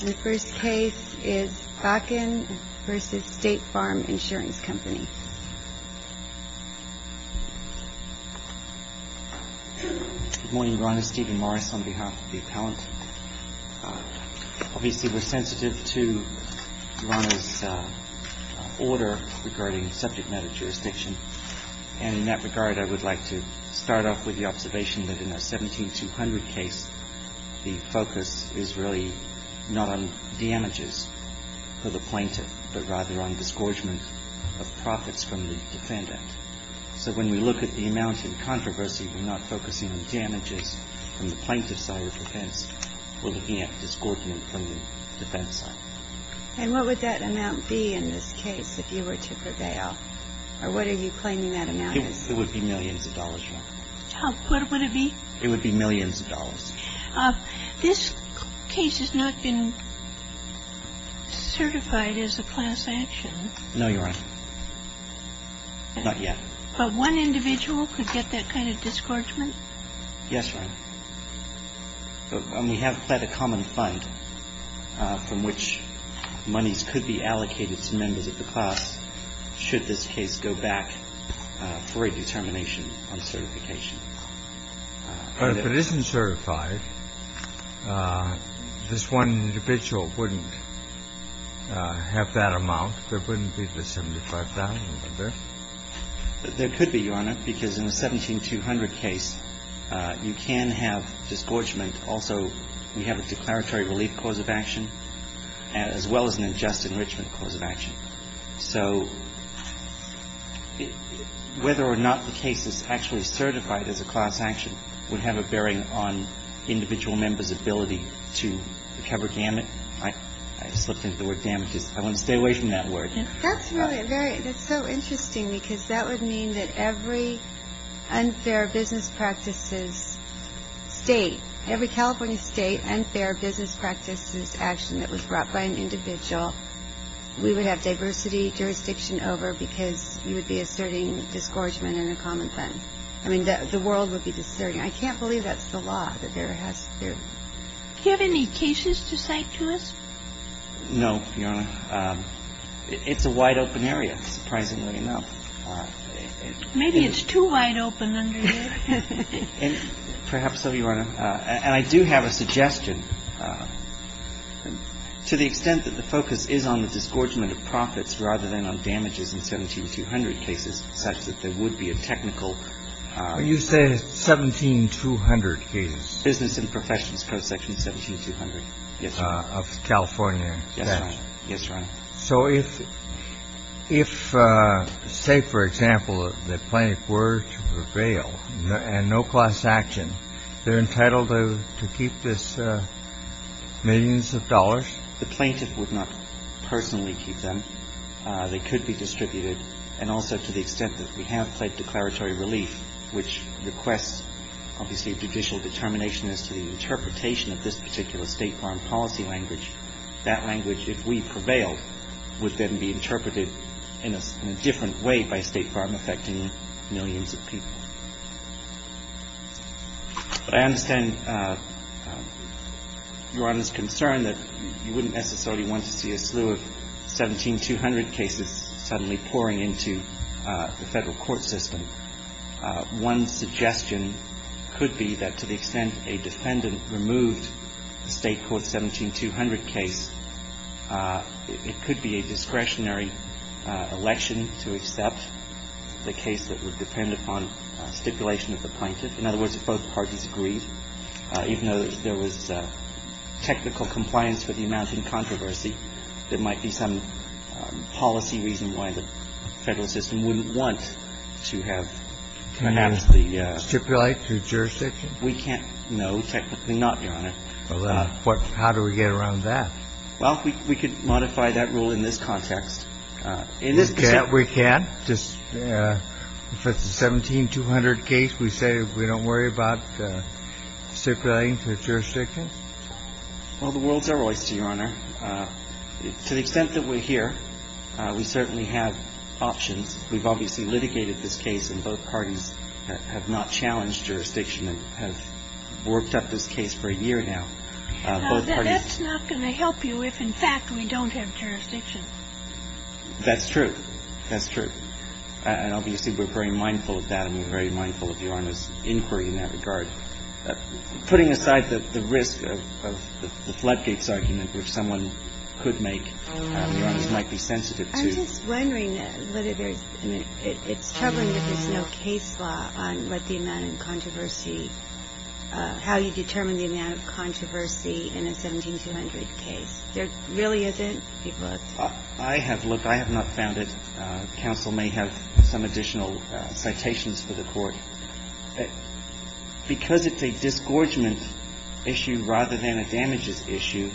Good morning, Your Honor. Stephen Morris on behalf of the appellant. Obviously we're sensitive to Your Honor's order regarding subject matter jurisdiction, and in that regard I would like to start off with the observation that in a 17-200 case, the focus is really not on damages for the plaintiff, but rather on disgorgement of profits from the defendant. So when we look at the amount in controversy, we're not focusing on damages from the plaintiff's side of defense. We're looking at disgorgement from the defense side. And what would that amount be in this case if you were to prevail? Or what are you claiming that amount is? It would be millions of dollars, Your Honor. How good would it be? It would be millions of dollars. This case has not been certified as a class action. No, Your Honor. Not yet. But one individual could get that kind of disgorgement? Yes, Your Honor. We have pled a common fund from which monies could be allocated to members of the class should this case go back for a determination on certification. But if it isn't certified, this one individual wouldn't have that amount. There wouldn't be the $75,000, would there? There could be, Your Honor, because in a 17-200 case, you can have disgorgement. Also, we have a declaratory relief cause of action as well as an unjust enrichment cause of action. So whether or not the case is actually certified as a class action would have a bearing on individual members' ability to recover gamut. I slipped into the word gamut. I want to stay away from that word. That's really a very – that's so interesting because that would mean that every unfair business practices state – every California state unfair business practices action that was brought by an individual, we would have diversity jurisdiction over because you would be asserting disgorgement in a common fund. I mean, the world would be discerning. I can't believe that's the law that there has to. Do you have any cases to cite to us? No, Your Honor. It's a wide-open area, surprisingly enough. Maybe it's too wide open under you. Perhaps so, Your Honor. And I do have a suggestion. To the extent that the focus is on the disgorgement of profits rather than on damages in 17-200 cases such that there would be a technical – You say 17-200 cases? Business and professions, section 17-200, yes, Your Honor. Of California? Yes, Your Honor. So if – if, say, for example, the plaintiff were to prevail and no class action, they're entitled to keep this millions of dollars? The plaintiff would not personally keep them. They could be distributed. And also, to the extent that we have pled declaratory relief, which requests, obviously, judicial determination as to the interpretation of this particular State Farm policy language, that language, if we prevailed, would then be interpreted in a different way by State Farm affecting millions of people. But I understand Your Honor's concern that you wouldn't necessarily want to see a slew of 17-200 cases suddenly pouring into the Federal court system. One suggestion could be that to the extent a defendant removed a State court 17-200 case, it could be a discretionary election to accept the case that would depend upon stipulation of the plaintiff. In other words, if both parties agreed, even though there was technical compliance with the amount in controversy, there might be some policy reason why the Federal system wouldn't want to have perhaps the – Stipulate through jurisdiction? We can't – no, technically not, Your Honor. Well, how do we get around that? Well, we could modify that rule in this context. In this – We can? Just – if it's a 17-200 case, we say we don't worry about stipulating through jurisdiction? Well, the world's our oyster, Your Honor. To the extent that we're here, we certainly have options. We've obviously litigated this case, and both parties have not challenged jurisdiction and have worked up this case for a year now. That's not going to help you if, in fact, we don't have jurisdiction. That's true. That's true. And obviously, we're very mindful of that, and we're very mindful of Your Honor's inquiry in that regard. Putting aside the risk of the floodgates argument, which someone could make, Your Honor, might be sensitive to. I'm just wondering whether there's – I mean, it's troubling that there's no case law on what the amount in controversy – how you determine the amount of controversy in a 17-200 case. There really isn't? I have – look, I have not found it. Counsel may have some additional citations for the Court. Because it's a disgorgement issue rather than a damages issue,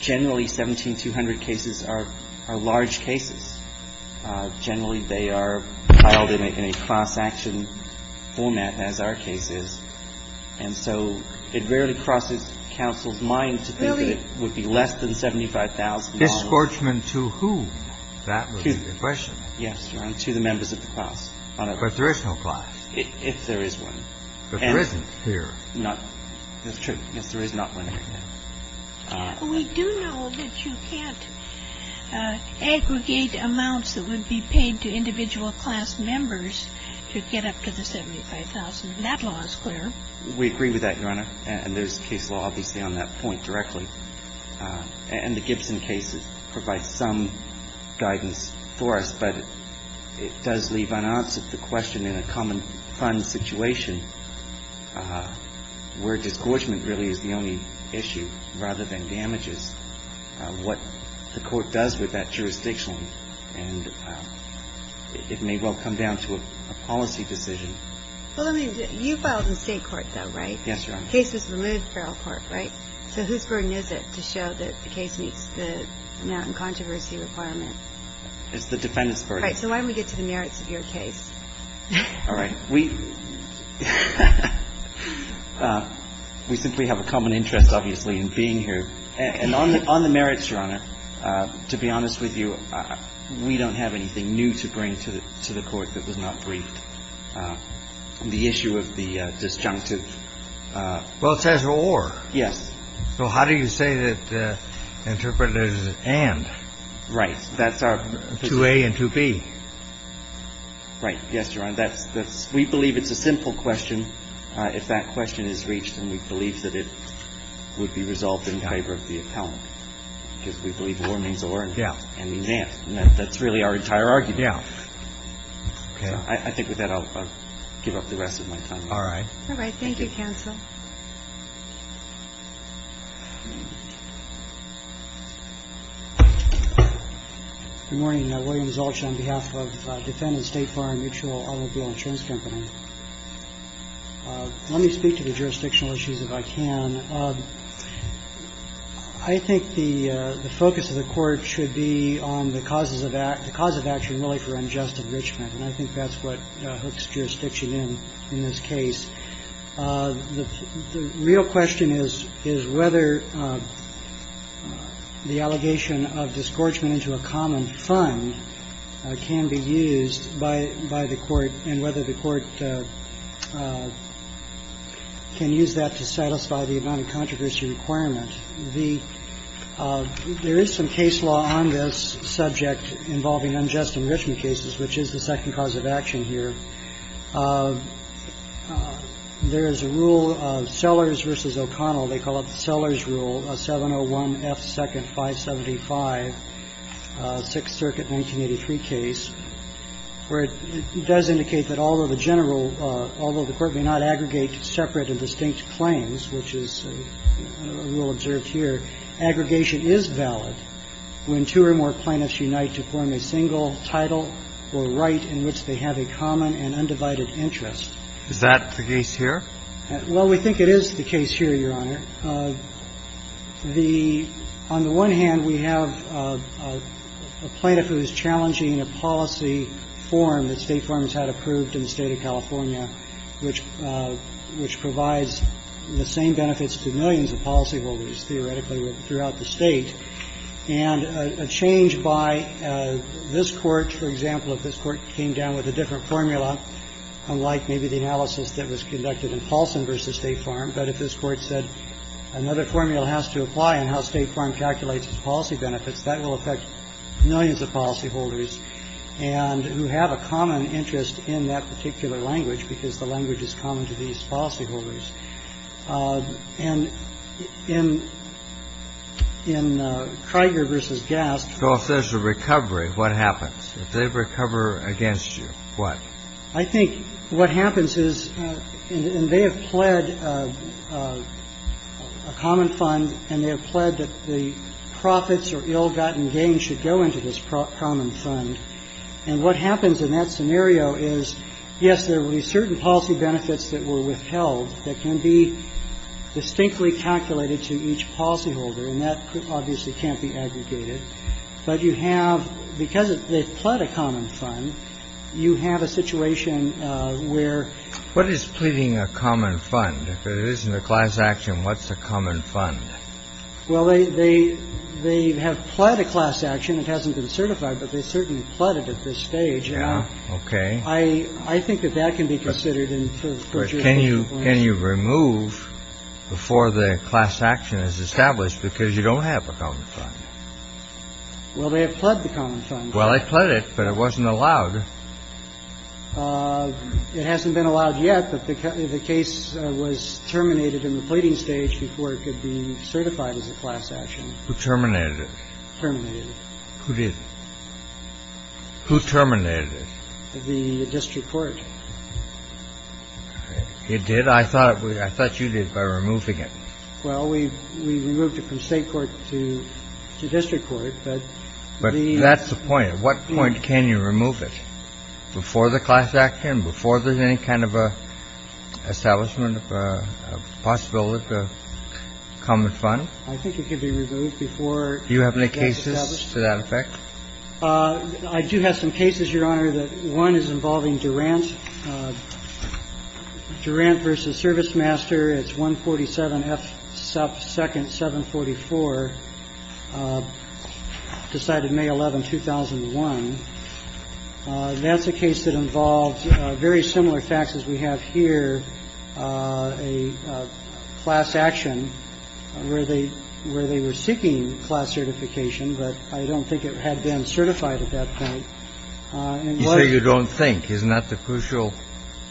generally, 17-200 cases are large cases. Generally, they are filed in a cross-action format, as our case is, and so it rarely crosses counsel's mind to think that it would be less than $75,000. Disgorgement to whom? That would be the question. Yes, Your Honor, to the members of the class. But there is no class. If there is one. But there isn't here. Not – that's true. Yes, there is not one here. We do know that you can't aggregate amounts that would be paid to individual class members to get up to the $75,000. That law is clear. We agree with that, Your Honor. And there's case law, obviously, on that point directly. And the Gibson case provides some guidance for us, but it does leave unanswered the question in a common fund situation where disgorgement really is the only issue rather than damages, what the Court does with that jurisdiction. And it may well come down to a policy decision. Well, I mean, you filed in State court, though, right? Yes, Your Honor. The case was removed from federal court, right? So whose burden is it to show that the case meets the merit and controversy requirement? It's the defendant's burden. All right. So why don't we get to the merits of your case? All right. We – we simply have a common interest, obviously, in being here. And on the merits, Your Honor, to be honest with you, we don't have anything new to bring to the Court that was not briefed. And the issue of the disjunctive – Well, it says, or. Yes. So how do you say that the interpretative is, and? Right. That's our position. 2A and 2B. Right. Yes, Your Honor. That's – we believe it's a simple question. If that question is reached, then we believe that it would be resolved in favor of the And that's really our entire argument. Yeah. I think with that, I'll give up the rest of my time. All right. All right. Thank you, counsel. Good morning. William Zolch on behalf of Defendant State Farm Mutual Automobile Insurance Company. Let me speak to the jurisdictional issues if I can. I think the focus of the Court should be on the causes of – the cause of action, and really for unjust enrichment. And I think that's what hooks jurisdiction in in this case. The real question is whether the allegation of disgorgement into a common fund can be used by the Court, and whether the Court can use that to satisfy the non-controversy requirement. The – there is some case law on this subject involving unjust enrichment cases, which is the second cause of action here. There is a rule of Sellers v. O'Connell. They call it the Sellers Rule, a 701F, 2nd, 575, 6th Circuit, 1983 case, where it does indicate that although the general – although the Court may not aggregate separate and distinct claims, which is a rule observed here, aggregation is valid when two or more plaintiffs unite to form a single title or right in which they have a common and undivided interest. Is that the case here? Well, we think it is the case here, Your Honor. The – on the one hand, we have a plaintiff who is challenging a policy form that provides the same benefits to millions of policyholders, theoretically, throughout the State, and a change by this Court, for example, if this Court came down with a different formula, unlike maybe the analysis that was conducted in Paulson v. State Farm, but if this Court said another formula has to apply on how State Farm calculates its policy benefits, that will affect millions of policyholders and – who have a common interest in that particular language, because the language is common to these policyholders. And in – in Krieger v. Gaspt – So if there's a recovery, what happens? If they recover against you, what? I think what happens is – and they have pled a common fund, and they have pled that the profits or ill-gotten gains should go into this common fund. And what happens in that scenario is, yes, there will be certain policy benefits that were withheld that can be distinctly calculated to each policyholder, and that obviously can't be aggregated. But you have – because they've pled a common fund, you have a situation where – What is pleading a common fund? If it isn't a class action, what's a common fund? Well, they – they have pled a class action. It hasn't been certified, but they certainly pled it at this stage. Yeah. Okay. I – I think that that can be considered in terms of – But can you – can you remove before the class action is established, because you don't have a common fund? Well, they have pled the common fund. Well, I pled it, but it wasn't allowed. It hasn't been allowed yet, but the case was terminated in the pleading stage before it could be certified as a class action. Who terminated it? Terminated it. Who did? Who terminated it? The district court. It did? I thought – I thought you did by removing it. Well, we – we removed it from state court to district court, but the – That's the point. What point can you remove it? Before the class action, before there's any kind of an establishment of a possibility of a common fund? I think it could be removed before – Do you have any cases to that effect? I do have some cases, Your Honor, that one is involving Durant. Durant v. Service Master. It's 147F2nd744, decided May 11, 2001. That's a case that involved very similar facts as we have here, a class action where they – where they were seeking class certification, but I don't think it had been certified at that point. You say you don't think. Isn't that the crucial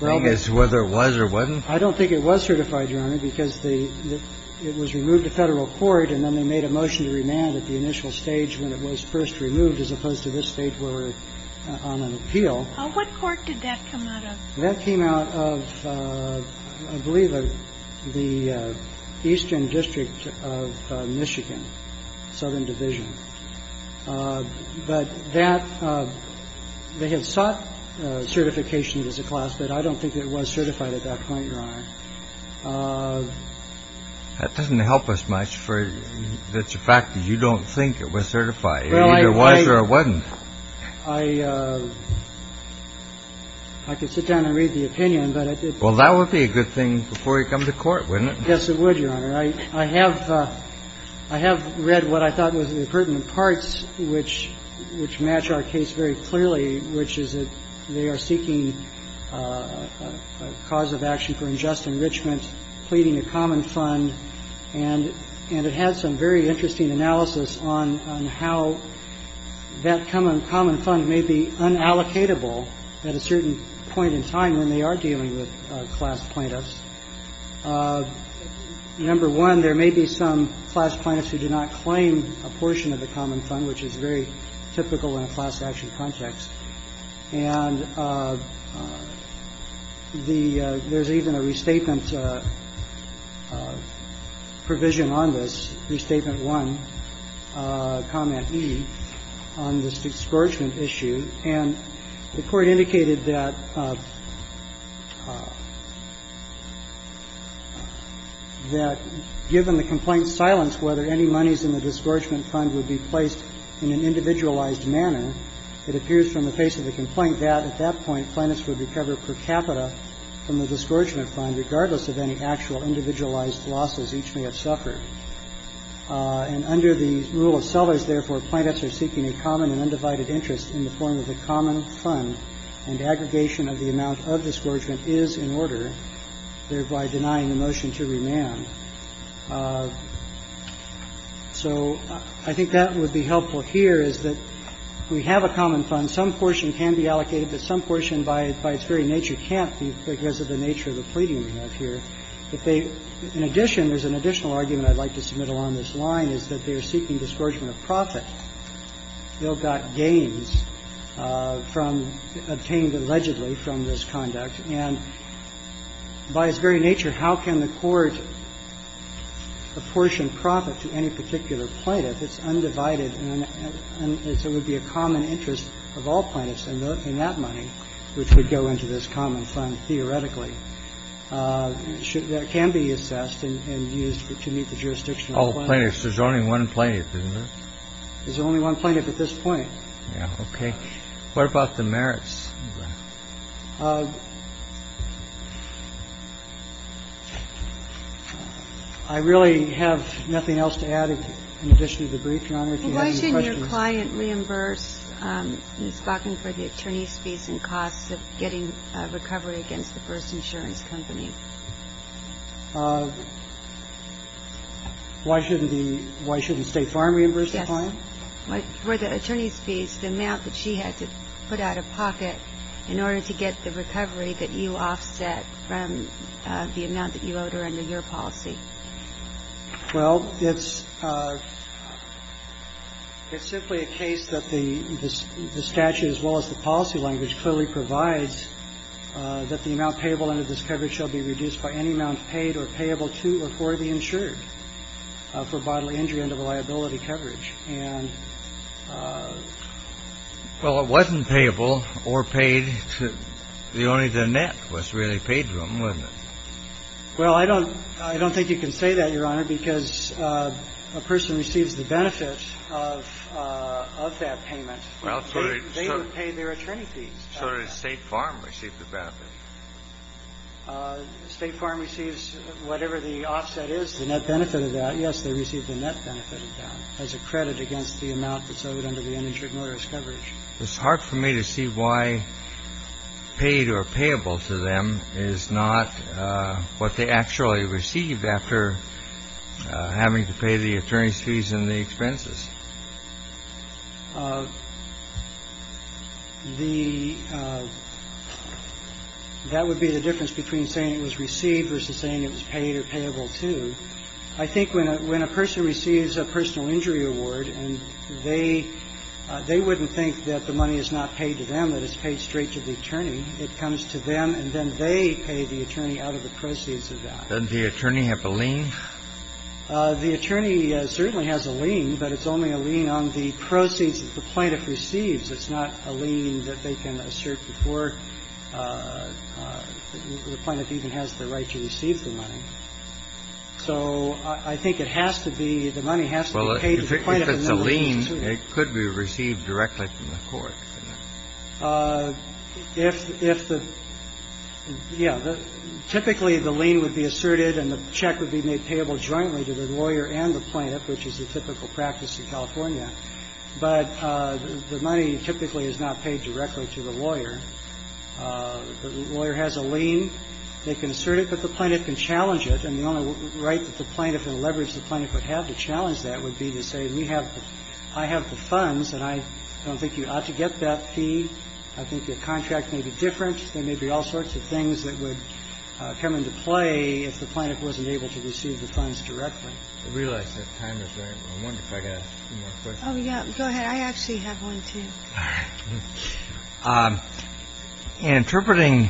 thing is whether it was or wasn't? I don't think it was certified, Your Honor, because the – it was removed to federal court, and then they made a motion to remand at the initial stage when it was first removed, as opposed to this stage where we're on an appeal. What court did that come out of? That came out of, I believe, the Eastern District of Michigan, Southern Division. But that – they had sought certification as a class, but I don't think it was certified at that point, Your Honor. That doesn't help us much for the fact that you don't think it was certified. It either was or it wasn't. I – I could sit down and read the opinion, but it – Well, that would be a good thing before you come to court, wouldn't it? Yes, it would, Your Honor. I have – I have read what I thought was the pertinent parts which – which match our case very clearly, which is that they are seeking a cause of action for unjust enrichment, pleading a common fund. And – and it had some very interesting analysis on – on how that common fund may be unallocatable at a certain point in time when they are dealing with class plaintiffs. Number one, there may be some class plaintiffs who do not claim a portion of the common fund, which is very typical in a class action context. And the – there's even a restatement provision on this, Restatement I, Comment E, on this discouragement issue. And the Court indicated that – that given the complaint's silence, whether any monies in the discouragement fund would be placed in an individualized manner, it appears from the face of the complaint that at that point, plaintiffs would recover per capita from the discouragement fund, regardless of any actual individualized losses each may have suffered. And under the rule of sellers, therefore, plaintiffs are seeking a common and undivided interest in the form of a common fund, and aggregation of the amount of discouragement is in order, thereby denying the motion to remand. So I think that would be helpful here, is that we have a common fund. Some portion can be allocated, but some portion, by its very nature, can't be because of the nature of the pleading we have here. If they – in addition, there's an additional argument I'd like to submit along this line, is that they are seeking discouragement of profit. They'll got gains from – obtained allegedly from this conduct. And by its very nature, how can the court apportion profit to any particular plaintiff? It's undivided, and it would be a common interest of all plaintiffs in that money, which would go into this common fund, theoretically. It can be assessed and used to meet the jurisdiction of the plaintiff. Kennedy. There's only one plaintiff, isn't there? Kennedy. There's only one plaintiff at this point. Kennedy. Yeah, okay. What about the merits? I really have nothing else to add in addition to the brief, Your Honor, if you have any questions. Well, why shouldn't your client reimburse Ms. Bakken for the attorney's fees and costs of getting a recovery against the first insurance company? Why shouldn't the – why shouldn't State Farm reimburse the client? Well, for the attorney's fees, the amount that she had to put out of pocket in order to get the recovery that you offset from the amount that you owed her under your policy. Well, it's – it's simply a case that the statute as well as the policy language clearly provides that the amount payable under this coverage shall be reduced by any amount paid or payable to or for the insured for bodily injury under liability coverage. And – Well, it wasn't payable or paid to – only the net was really paid to them, wasn't it? Well, I don't – I don't think you can say that, Your Honor, because a person receives the benefits of – of that payment. Well, so they – They would pay their attorney fees. So did State Farm receive the benefit? State Farm receives whatever the offset is, the net benefit of that. Yes, they received the net benefit of that as a credit against the amount that's owed under the uninsured motorist coverage. It's hard for me to see why paid or payable to them is not what they actually received after having to pay the attorney's fees and the expenses. The – that would be the difference between saying it was received versus saying it was paid or payable to. I think when a – when a person receives a personal injury award and they – they wouldn't think that the money is not paid to them, that it's paid straight to the attorney. It comes to them, and then they pay the attorney out of the proceeds of that. Doesn't the attorney have a lien? The attorney certainly has a lien, but it's only a lien on the proceeds that the plaintiff receives. It's not a lien that they can assert before the plaintiff even has the right to receive the money. So I think it has to be – the money has to be paid to the plaintiff in that way, too. Well, if it's a lien, it could be received directly from the court. If the – yeah, typically, the lien would be asserted and the check would be made payable jointly to the lawyer and the plaintiff, which is the typical practice in California. But the money typically is not paid directly to the lawyer. The lawyer has a lien. They can assert it, but the plaintiff can challenge it. And the only right that the plaintiff and the leverage the plaintiff would have to challenge that would be to say, we have – I have the funds and I don't think you ought to get that fee. I think your contract may be different. There may be all sorts of things that would come into play if the plaintiff wasn't able to receive the funds directly. I realize that time is running, but I wonder if I could ask a few more questions. Oh, yeah, go ahead. I actually have one, too. In interpreting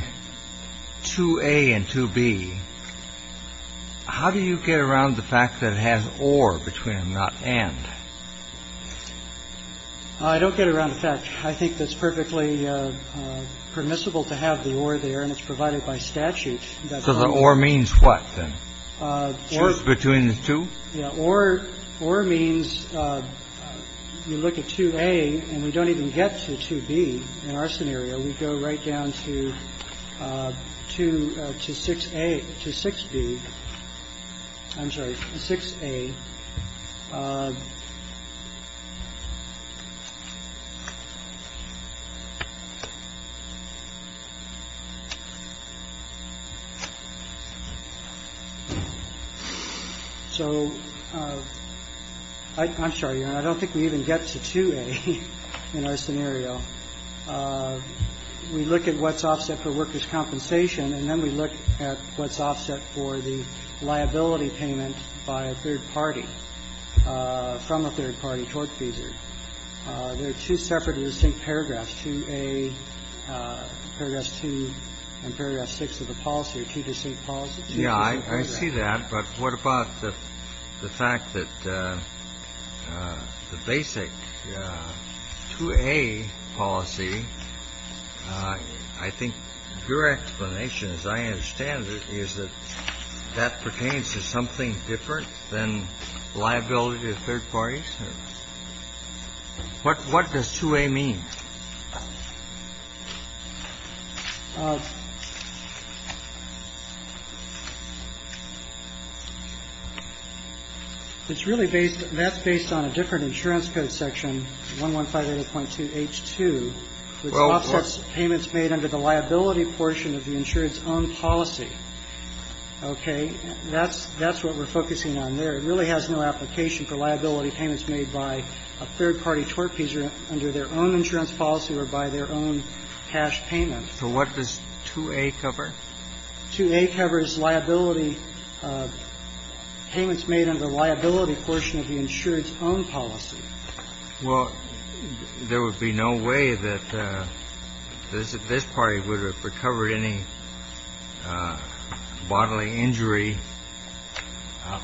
2A and 2B, how do you get around the fact that it has or between them, not and? I don't get around the fact. I think that's perfectly permissible to have the or there, and it's provided by statute. So the or means what, then? Or is between the two? Or means you look at 2A, and we don't even get to 2B in our scenario. We go right down to 6A – to 6B – I'm sorry, 6A. So I'm sorry, Your Honor, I don't think we even get to 2A in our scenario. We look at what's offset for workers' compensation, and then we look at what's offset for the liability payment by a third party. And then we look at what's offset for the liability payment by a third party. So I'm sorry, Your Honor, I don't think we even get to 2A in our scenario. Liability of third parties. What what does 2A mean? It's really based. That's based on a different insurance code section. One one five point two H2 offsets payments made under the liability portion of the insurance own policy. OK. That's that's what we're focusing on there. It really has no application for liability payments made by a third party TORP, either under their own insurance policy or by their own cash payment. So what does 2A cover? 2A covers liability payments made under liability portion of the insurance own policy. Well, there would be no way that this this party would have recovered any bodily injury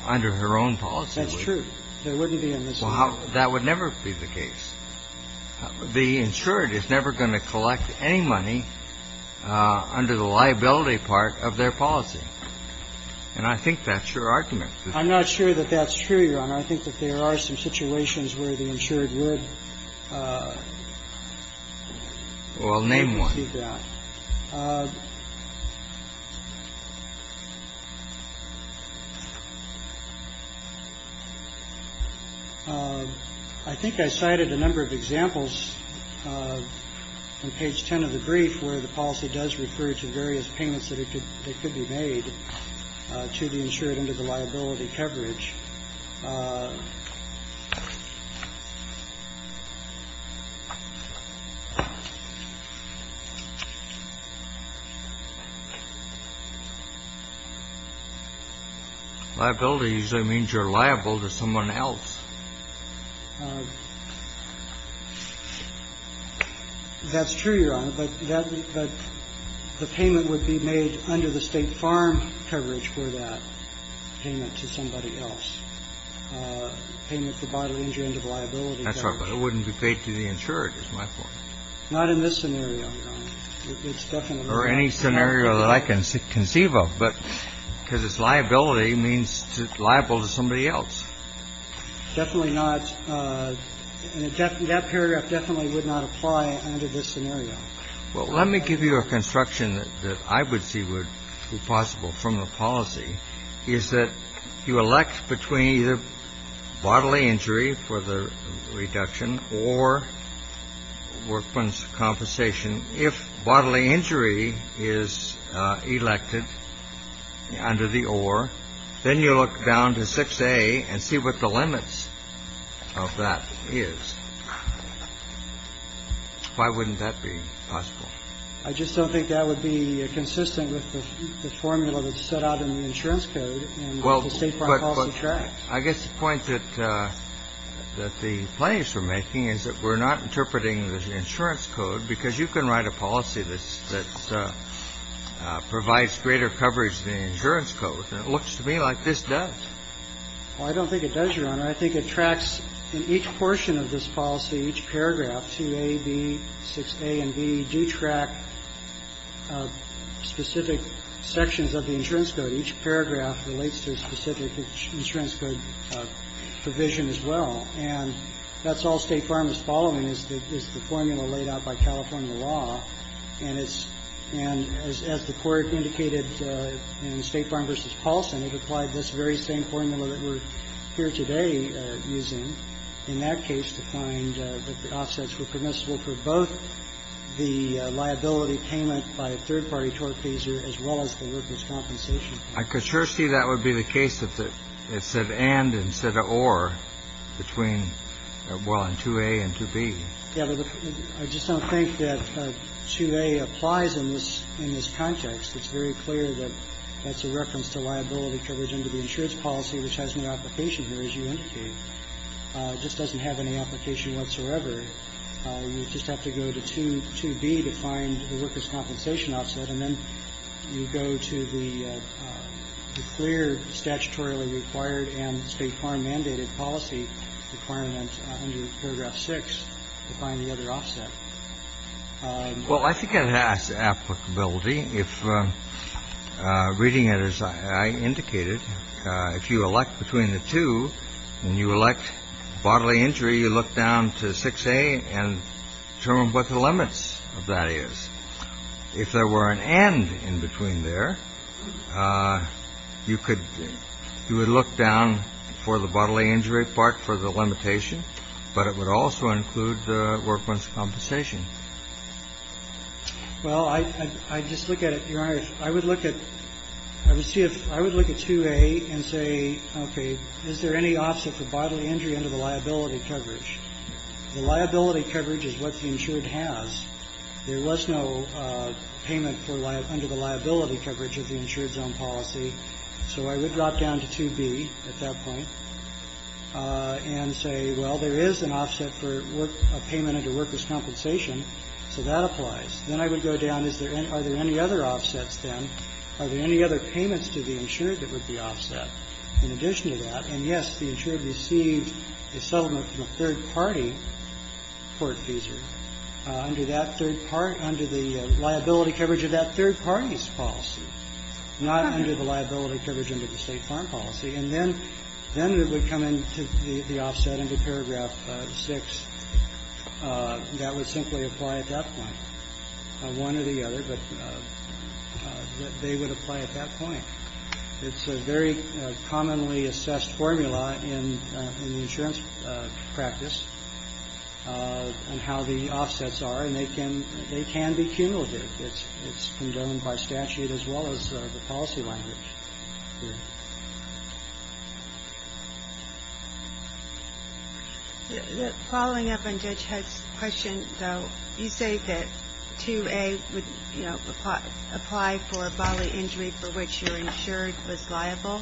under her own policy. That's true. There wouldn't be in this. Well, that would never be the case. The insured is never going to collect any money under the liability part of their policy. And I think that's your argument. I think that there are some situations where the insured would. Well, name one. I think I cited a number of examples on page 10 of the brief where the policy does refer to various payments that it could be made to the insured under the liability coverage. Liability usually means you're liable to someone else. That's true, your honor, but that the payment would be made under the state farm coverage for that payment to somebody else. Payment for bodily injury under liability. That's right. But it wouldn't be paid to the insured. It's my point. Not in this scenario. It's definitely or any scenario that I can conceive of. But because it's liability means liable to somebody else. Definitely not. And that paragraph definitely would not apply under this scenario. Well, let me give you a construction that I would see would be possible from the policy is that you elect between bodily injury for the reduction or workman's compensation. And if bodily injury is elected under the or then you look down to 6A and see what the limits of that is. Why wouldn't that be possible? I just don't think that would be consistent with the formula that's set out in the insurance code. Well, I guess the point that that the players are making is that we're not interpreting the insurance code because you can write a policy that provides greater coverage than the insurance code. And it looks to me like this does. I don't think it does, your honor. I think it tracks in each portion of this policy, each paragraph, 2A, B, 6A and B do track specific sections of the insurance code. Each paragraph relates to a specific insurance code provision as well. And that's all State Farm is following is the formula laid out by California law. And it's and as the court indicated in State Farm v. Paulson, it applied this very same formula that we're here today using. In that case, to find that the offsets were permissible for both the liability payment by a third party tort pleaser as well as the workman's compensation. I could sure see that would be the case if it said and instead of or between well, and 2A and 2B. Yeah, but I just don't think that 2A applies in this in this context. It's very clear that that's a reference to liability coverage under the insurance policy, which has no application here, as you indicate. It just doesn't have any application whatsoever. You just have to go to 2B to find the worker's compensation offset. And then you go to the clear statutorily required and State Farm mandated policy requirement under paragraph six to find the other offset. Well, I think it has applicability if reading it as I indicated, if you elect between the two and you elect bodily injury, you look down to 6A and determine what the limits of that is. If there were an and in between there, you could you would look down for the bodily injury part for the limitation, but it would also include the workman's compensation. Well, I just look at it, Your Honor. I would look at I would see if I would look at 2A and say, okay, is there any offset for bodily injury under the liability coverage? The liability coverage is what the insured has. There was no payment for under the liability coverage of the insured zone policy. So I would drop down to 2B at that point and say, well, there is an offset for a payment under worker's compensation, so that applies. Then I would go down, are there any other offsets then? Are there any other payments to the insured that would be offset in addition to that? And, yes, the insured received a settlement from a third-party court feasor under that third part, under the liability coverage of that third party's policy, not under the liability coverage under the State Farm Policy. And then it would come into the offset, into paragraph 6, that would simply apply at that point, one or the other, but they would apply at that point. It's a very commonly assessed formula in the insurance practice on how the offsets are, and they can be cumulative. It's condemned by statute as well as the policy language. The following up on Judge Head's question, though, you say that 2A would, you know, apply for bodily injury for which your insured was liable,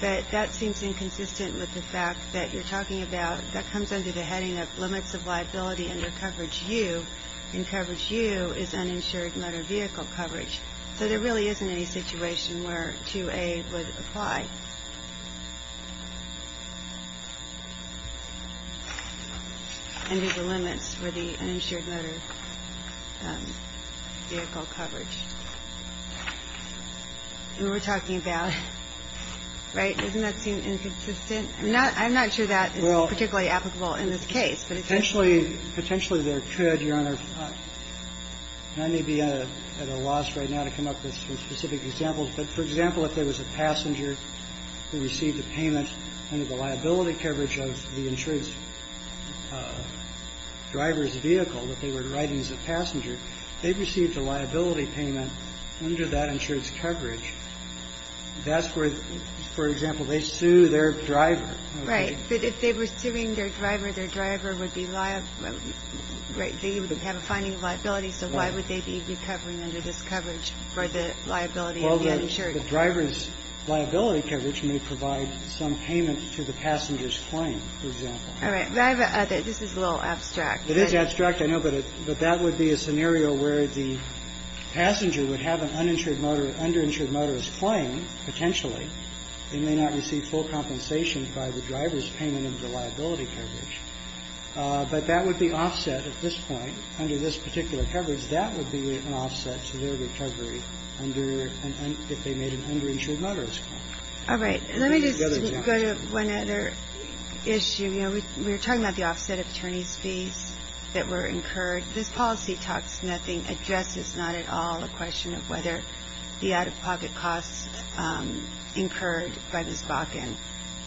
but that seems inconsistent with the fact that you're talking about, that comes under the heading of limits of liability under coverage U, and coverage U is uninsured motor vehicle coverage. So there really isn't any situation where 2A would apply under the limits of liability for which your insured was liable, but that doesn't seem to be a consistent case for the uninsured motor vehicle coverage that we're talking about, right? Doesn't that seem inconsistent? I'm not sure that is particularly applicable in this case, but it's the case. Potentially there could, Your Honor, and I may be at a loss right now to come up with some specific examples, but, for example, if there was a passenger who received a payment under the liability coverage of the insured driver's vehicle that they were driving as a passenger, they received a liability payment under that insured's coverage, that's where, for example, they sue their driver. Right. But if they were suing their driver, their driver would be liable, right, they would have a finding of liability, so why would they be recovering under this coverage for the liability of the insured? The driver's liability coverage may provide some payment to the passenger's claim, for example. All right. This is a little abstract. It is abstract, I know, but that would be a scenario where the passenger would have an uninsured motor or underinsured motorist claim, potentially, they may not receive full compensation by the driver's payment of the liability coverage, but that would be offset at this point, under this particular coverage, that would be an offset to their recovery under, if they made an underinsured motorist claim. All right. Let me just go to one other issue. You know, we were talking about the offset of attorneys' fees that were incurred. This policy talks nothing, addresses not at all the question of whether the out-of-pocket costs incurred by Ms. Bakken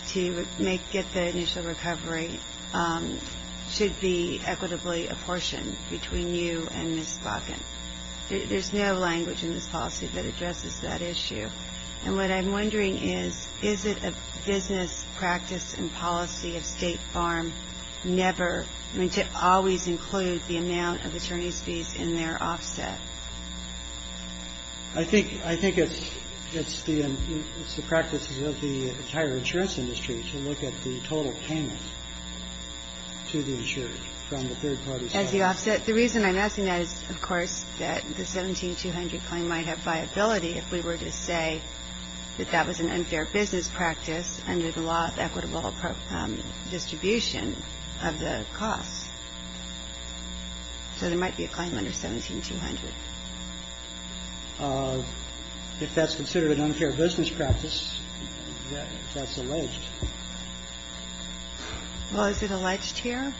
to make, get the initial recovery should be equitably apportioned between you and Ms. Bakken. There's no language in this policy that addresses that issue. And what I'm wondering is, is it a business practice and policy of State Farm never to always include the amount of attorneys' fees in their offset? I think it's the practice of the entire insurance industry to look at the total payment to the insured from the third party's office. As the offset. The reason I'm asking that is, of course, that the 17-200 claim might have viability if we were to say that that was an unfair business practice under the law of equitable distribution of the costs. So there might be a claim under 17-200. If that's considered an unfair business practice, that's alleged. Well, is it alleged here?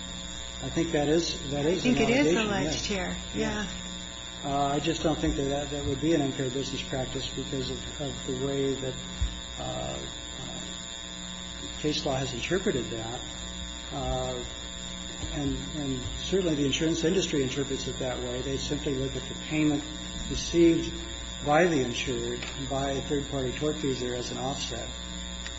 I think that is. I think it is alleged here. Yeah. I just don't think that that would be an unfair business practice because of the way that case law has interpreted that. And certainly the insurance industry interprets it that way. They simply look at the payment received by the insured by a third-party tortfeasor as an offset.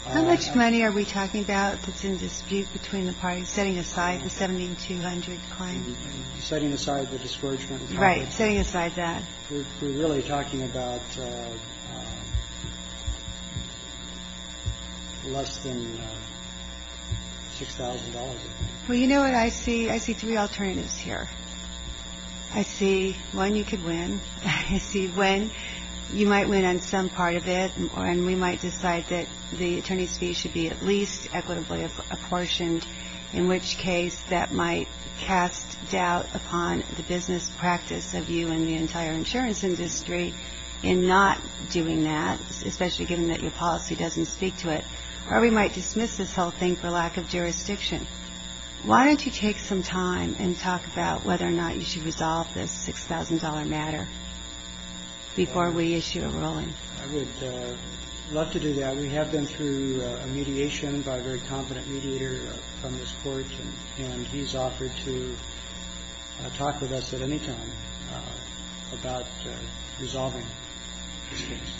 How much money are we talking about that's in dispute between the parties, setting aside the 17-200 claim? Setting aside the discouragement. Right. Setting aside that. We're really talking about less than $6,000. Well, you know what I see? I see three alternatives here. I see one you could win. I see when you might win on some part of it. And we might decide that the attorney's fee should be at least equitably apportioned, in which case that might cast doubt upon the business practice of you and the entire insurance industry in not doing that, especially given that your policy doesn't speak to it. Or we might dismiss this whole thing for lack of jurisdiction. Why don't you take some time and talk about whether or not you should resolve this $6,000 matter before we issue a ruling? I would love to do that. We have been through a mediation by a very competent mediator from this court. And he's offered to talk with us at any time about resolving this case.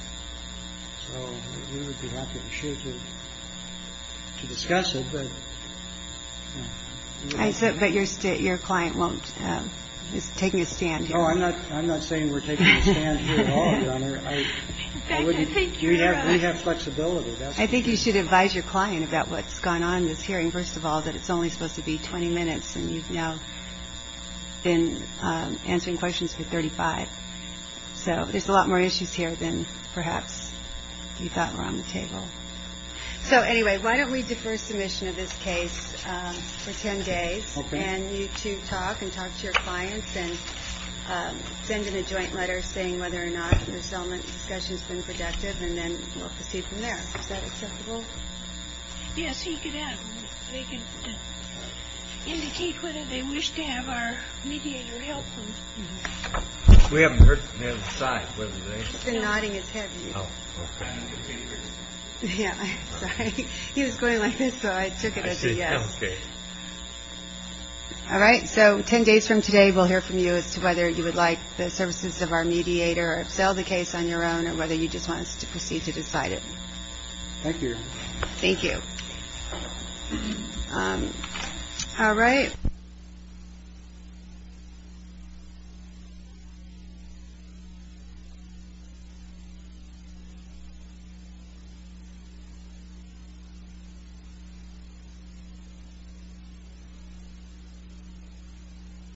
So we would be happy and sure to discuss it. But I said, but your state, your client won't. It's taking a stand. Oh, I'm not. I'm not saying we're taking a stand here at all. I think you should advise your client about what's gone on this hearing. First of all, that it's only supposed to be 20 minutes. And you've now been answering questions for 35. So there's a lot more issues here than perhaps you thought were on the table. So anyway, why don't we defer submission of this case for 10 days and you to talk and talk to your clients and send in a joint letter saying whether or not the settlement discussion has been productive. And then we'll proceed from there. Is that acceptable? Yes, you can ask. They can indicate whether they wish to have our mediator help them. We haven't heard the other side, have we? He's been nodding his head. Oh, OK, I didn't get to hear him. Yeah, I'm sorry. He was going like this, so I took it as a yes. I see. OK. All right. So 10 days from today, we'll hear from you as to whether you would like the services of our mediator, sell the case on your own or whether you just want us to proceed to decide it. All right.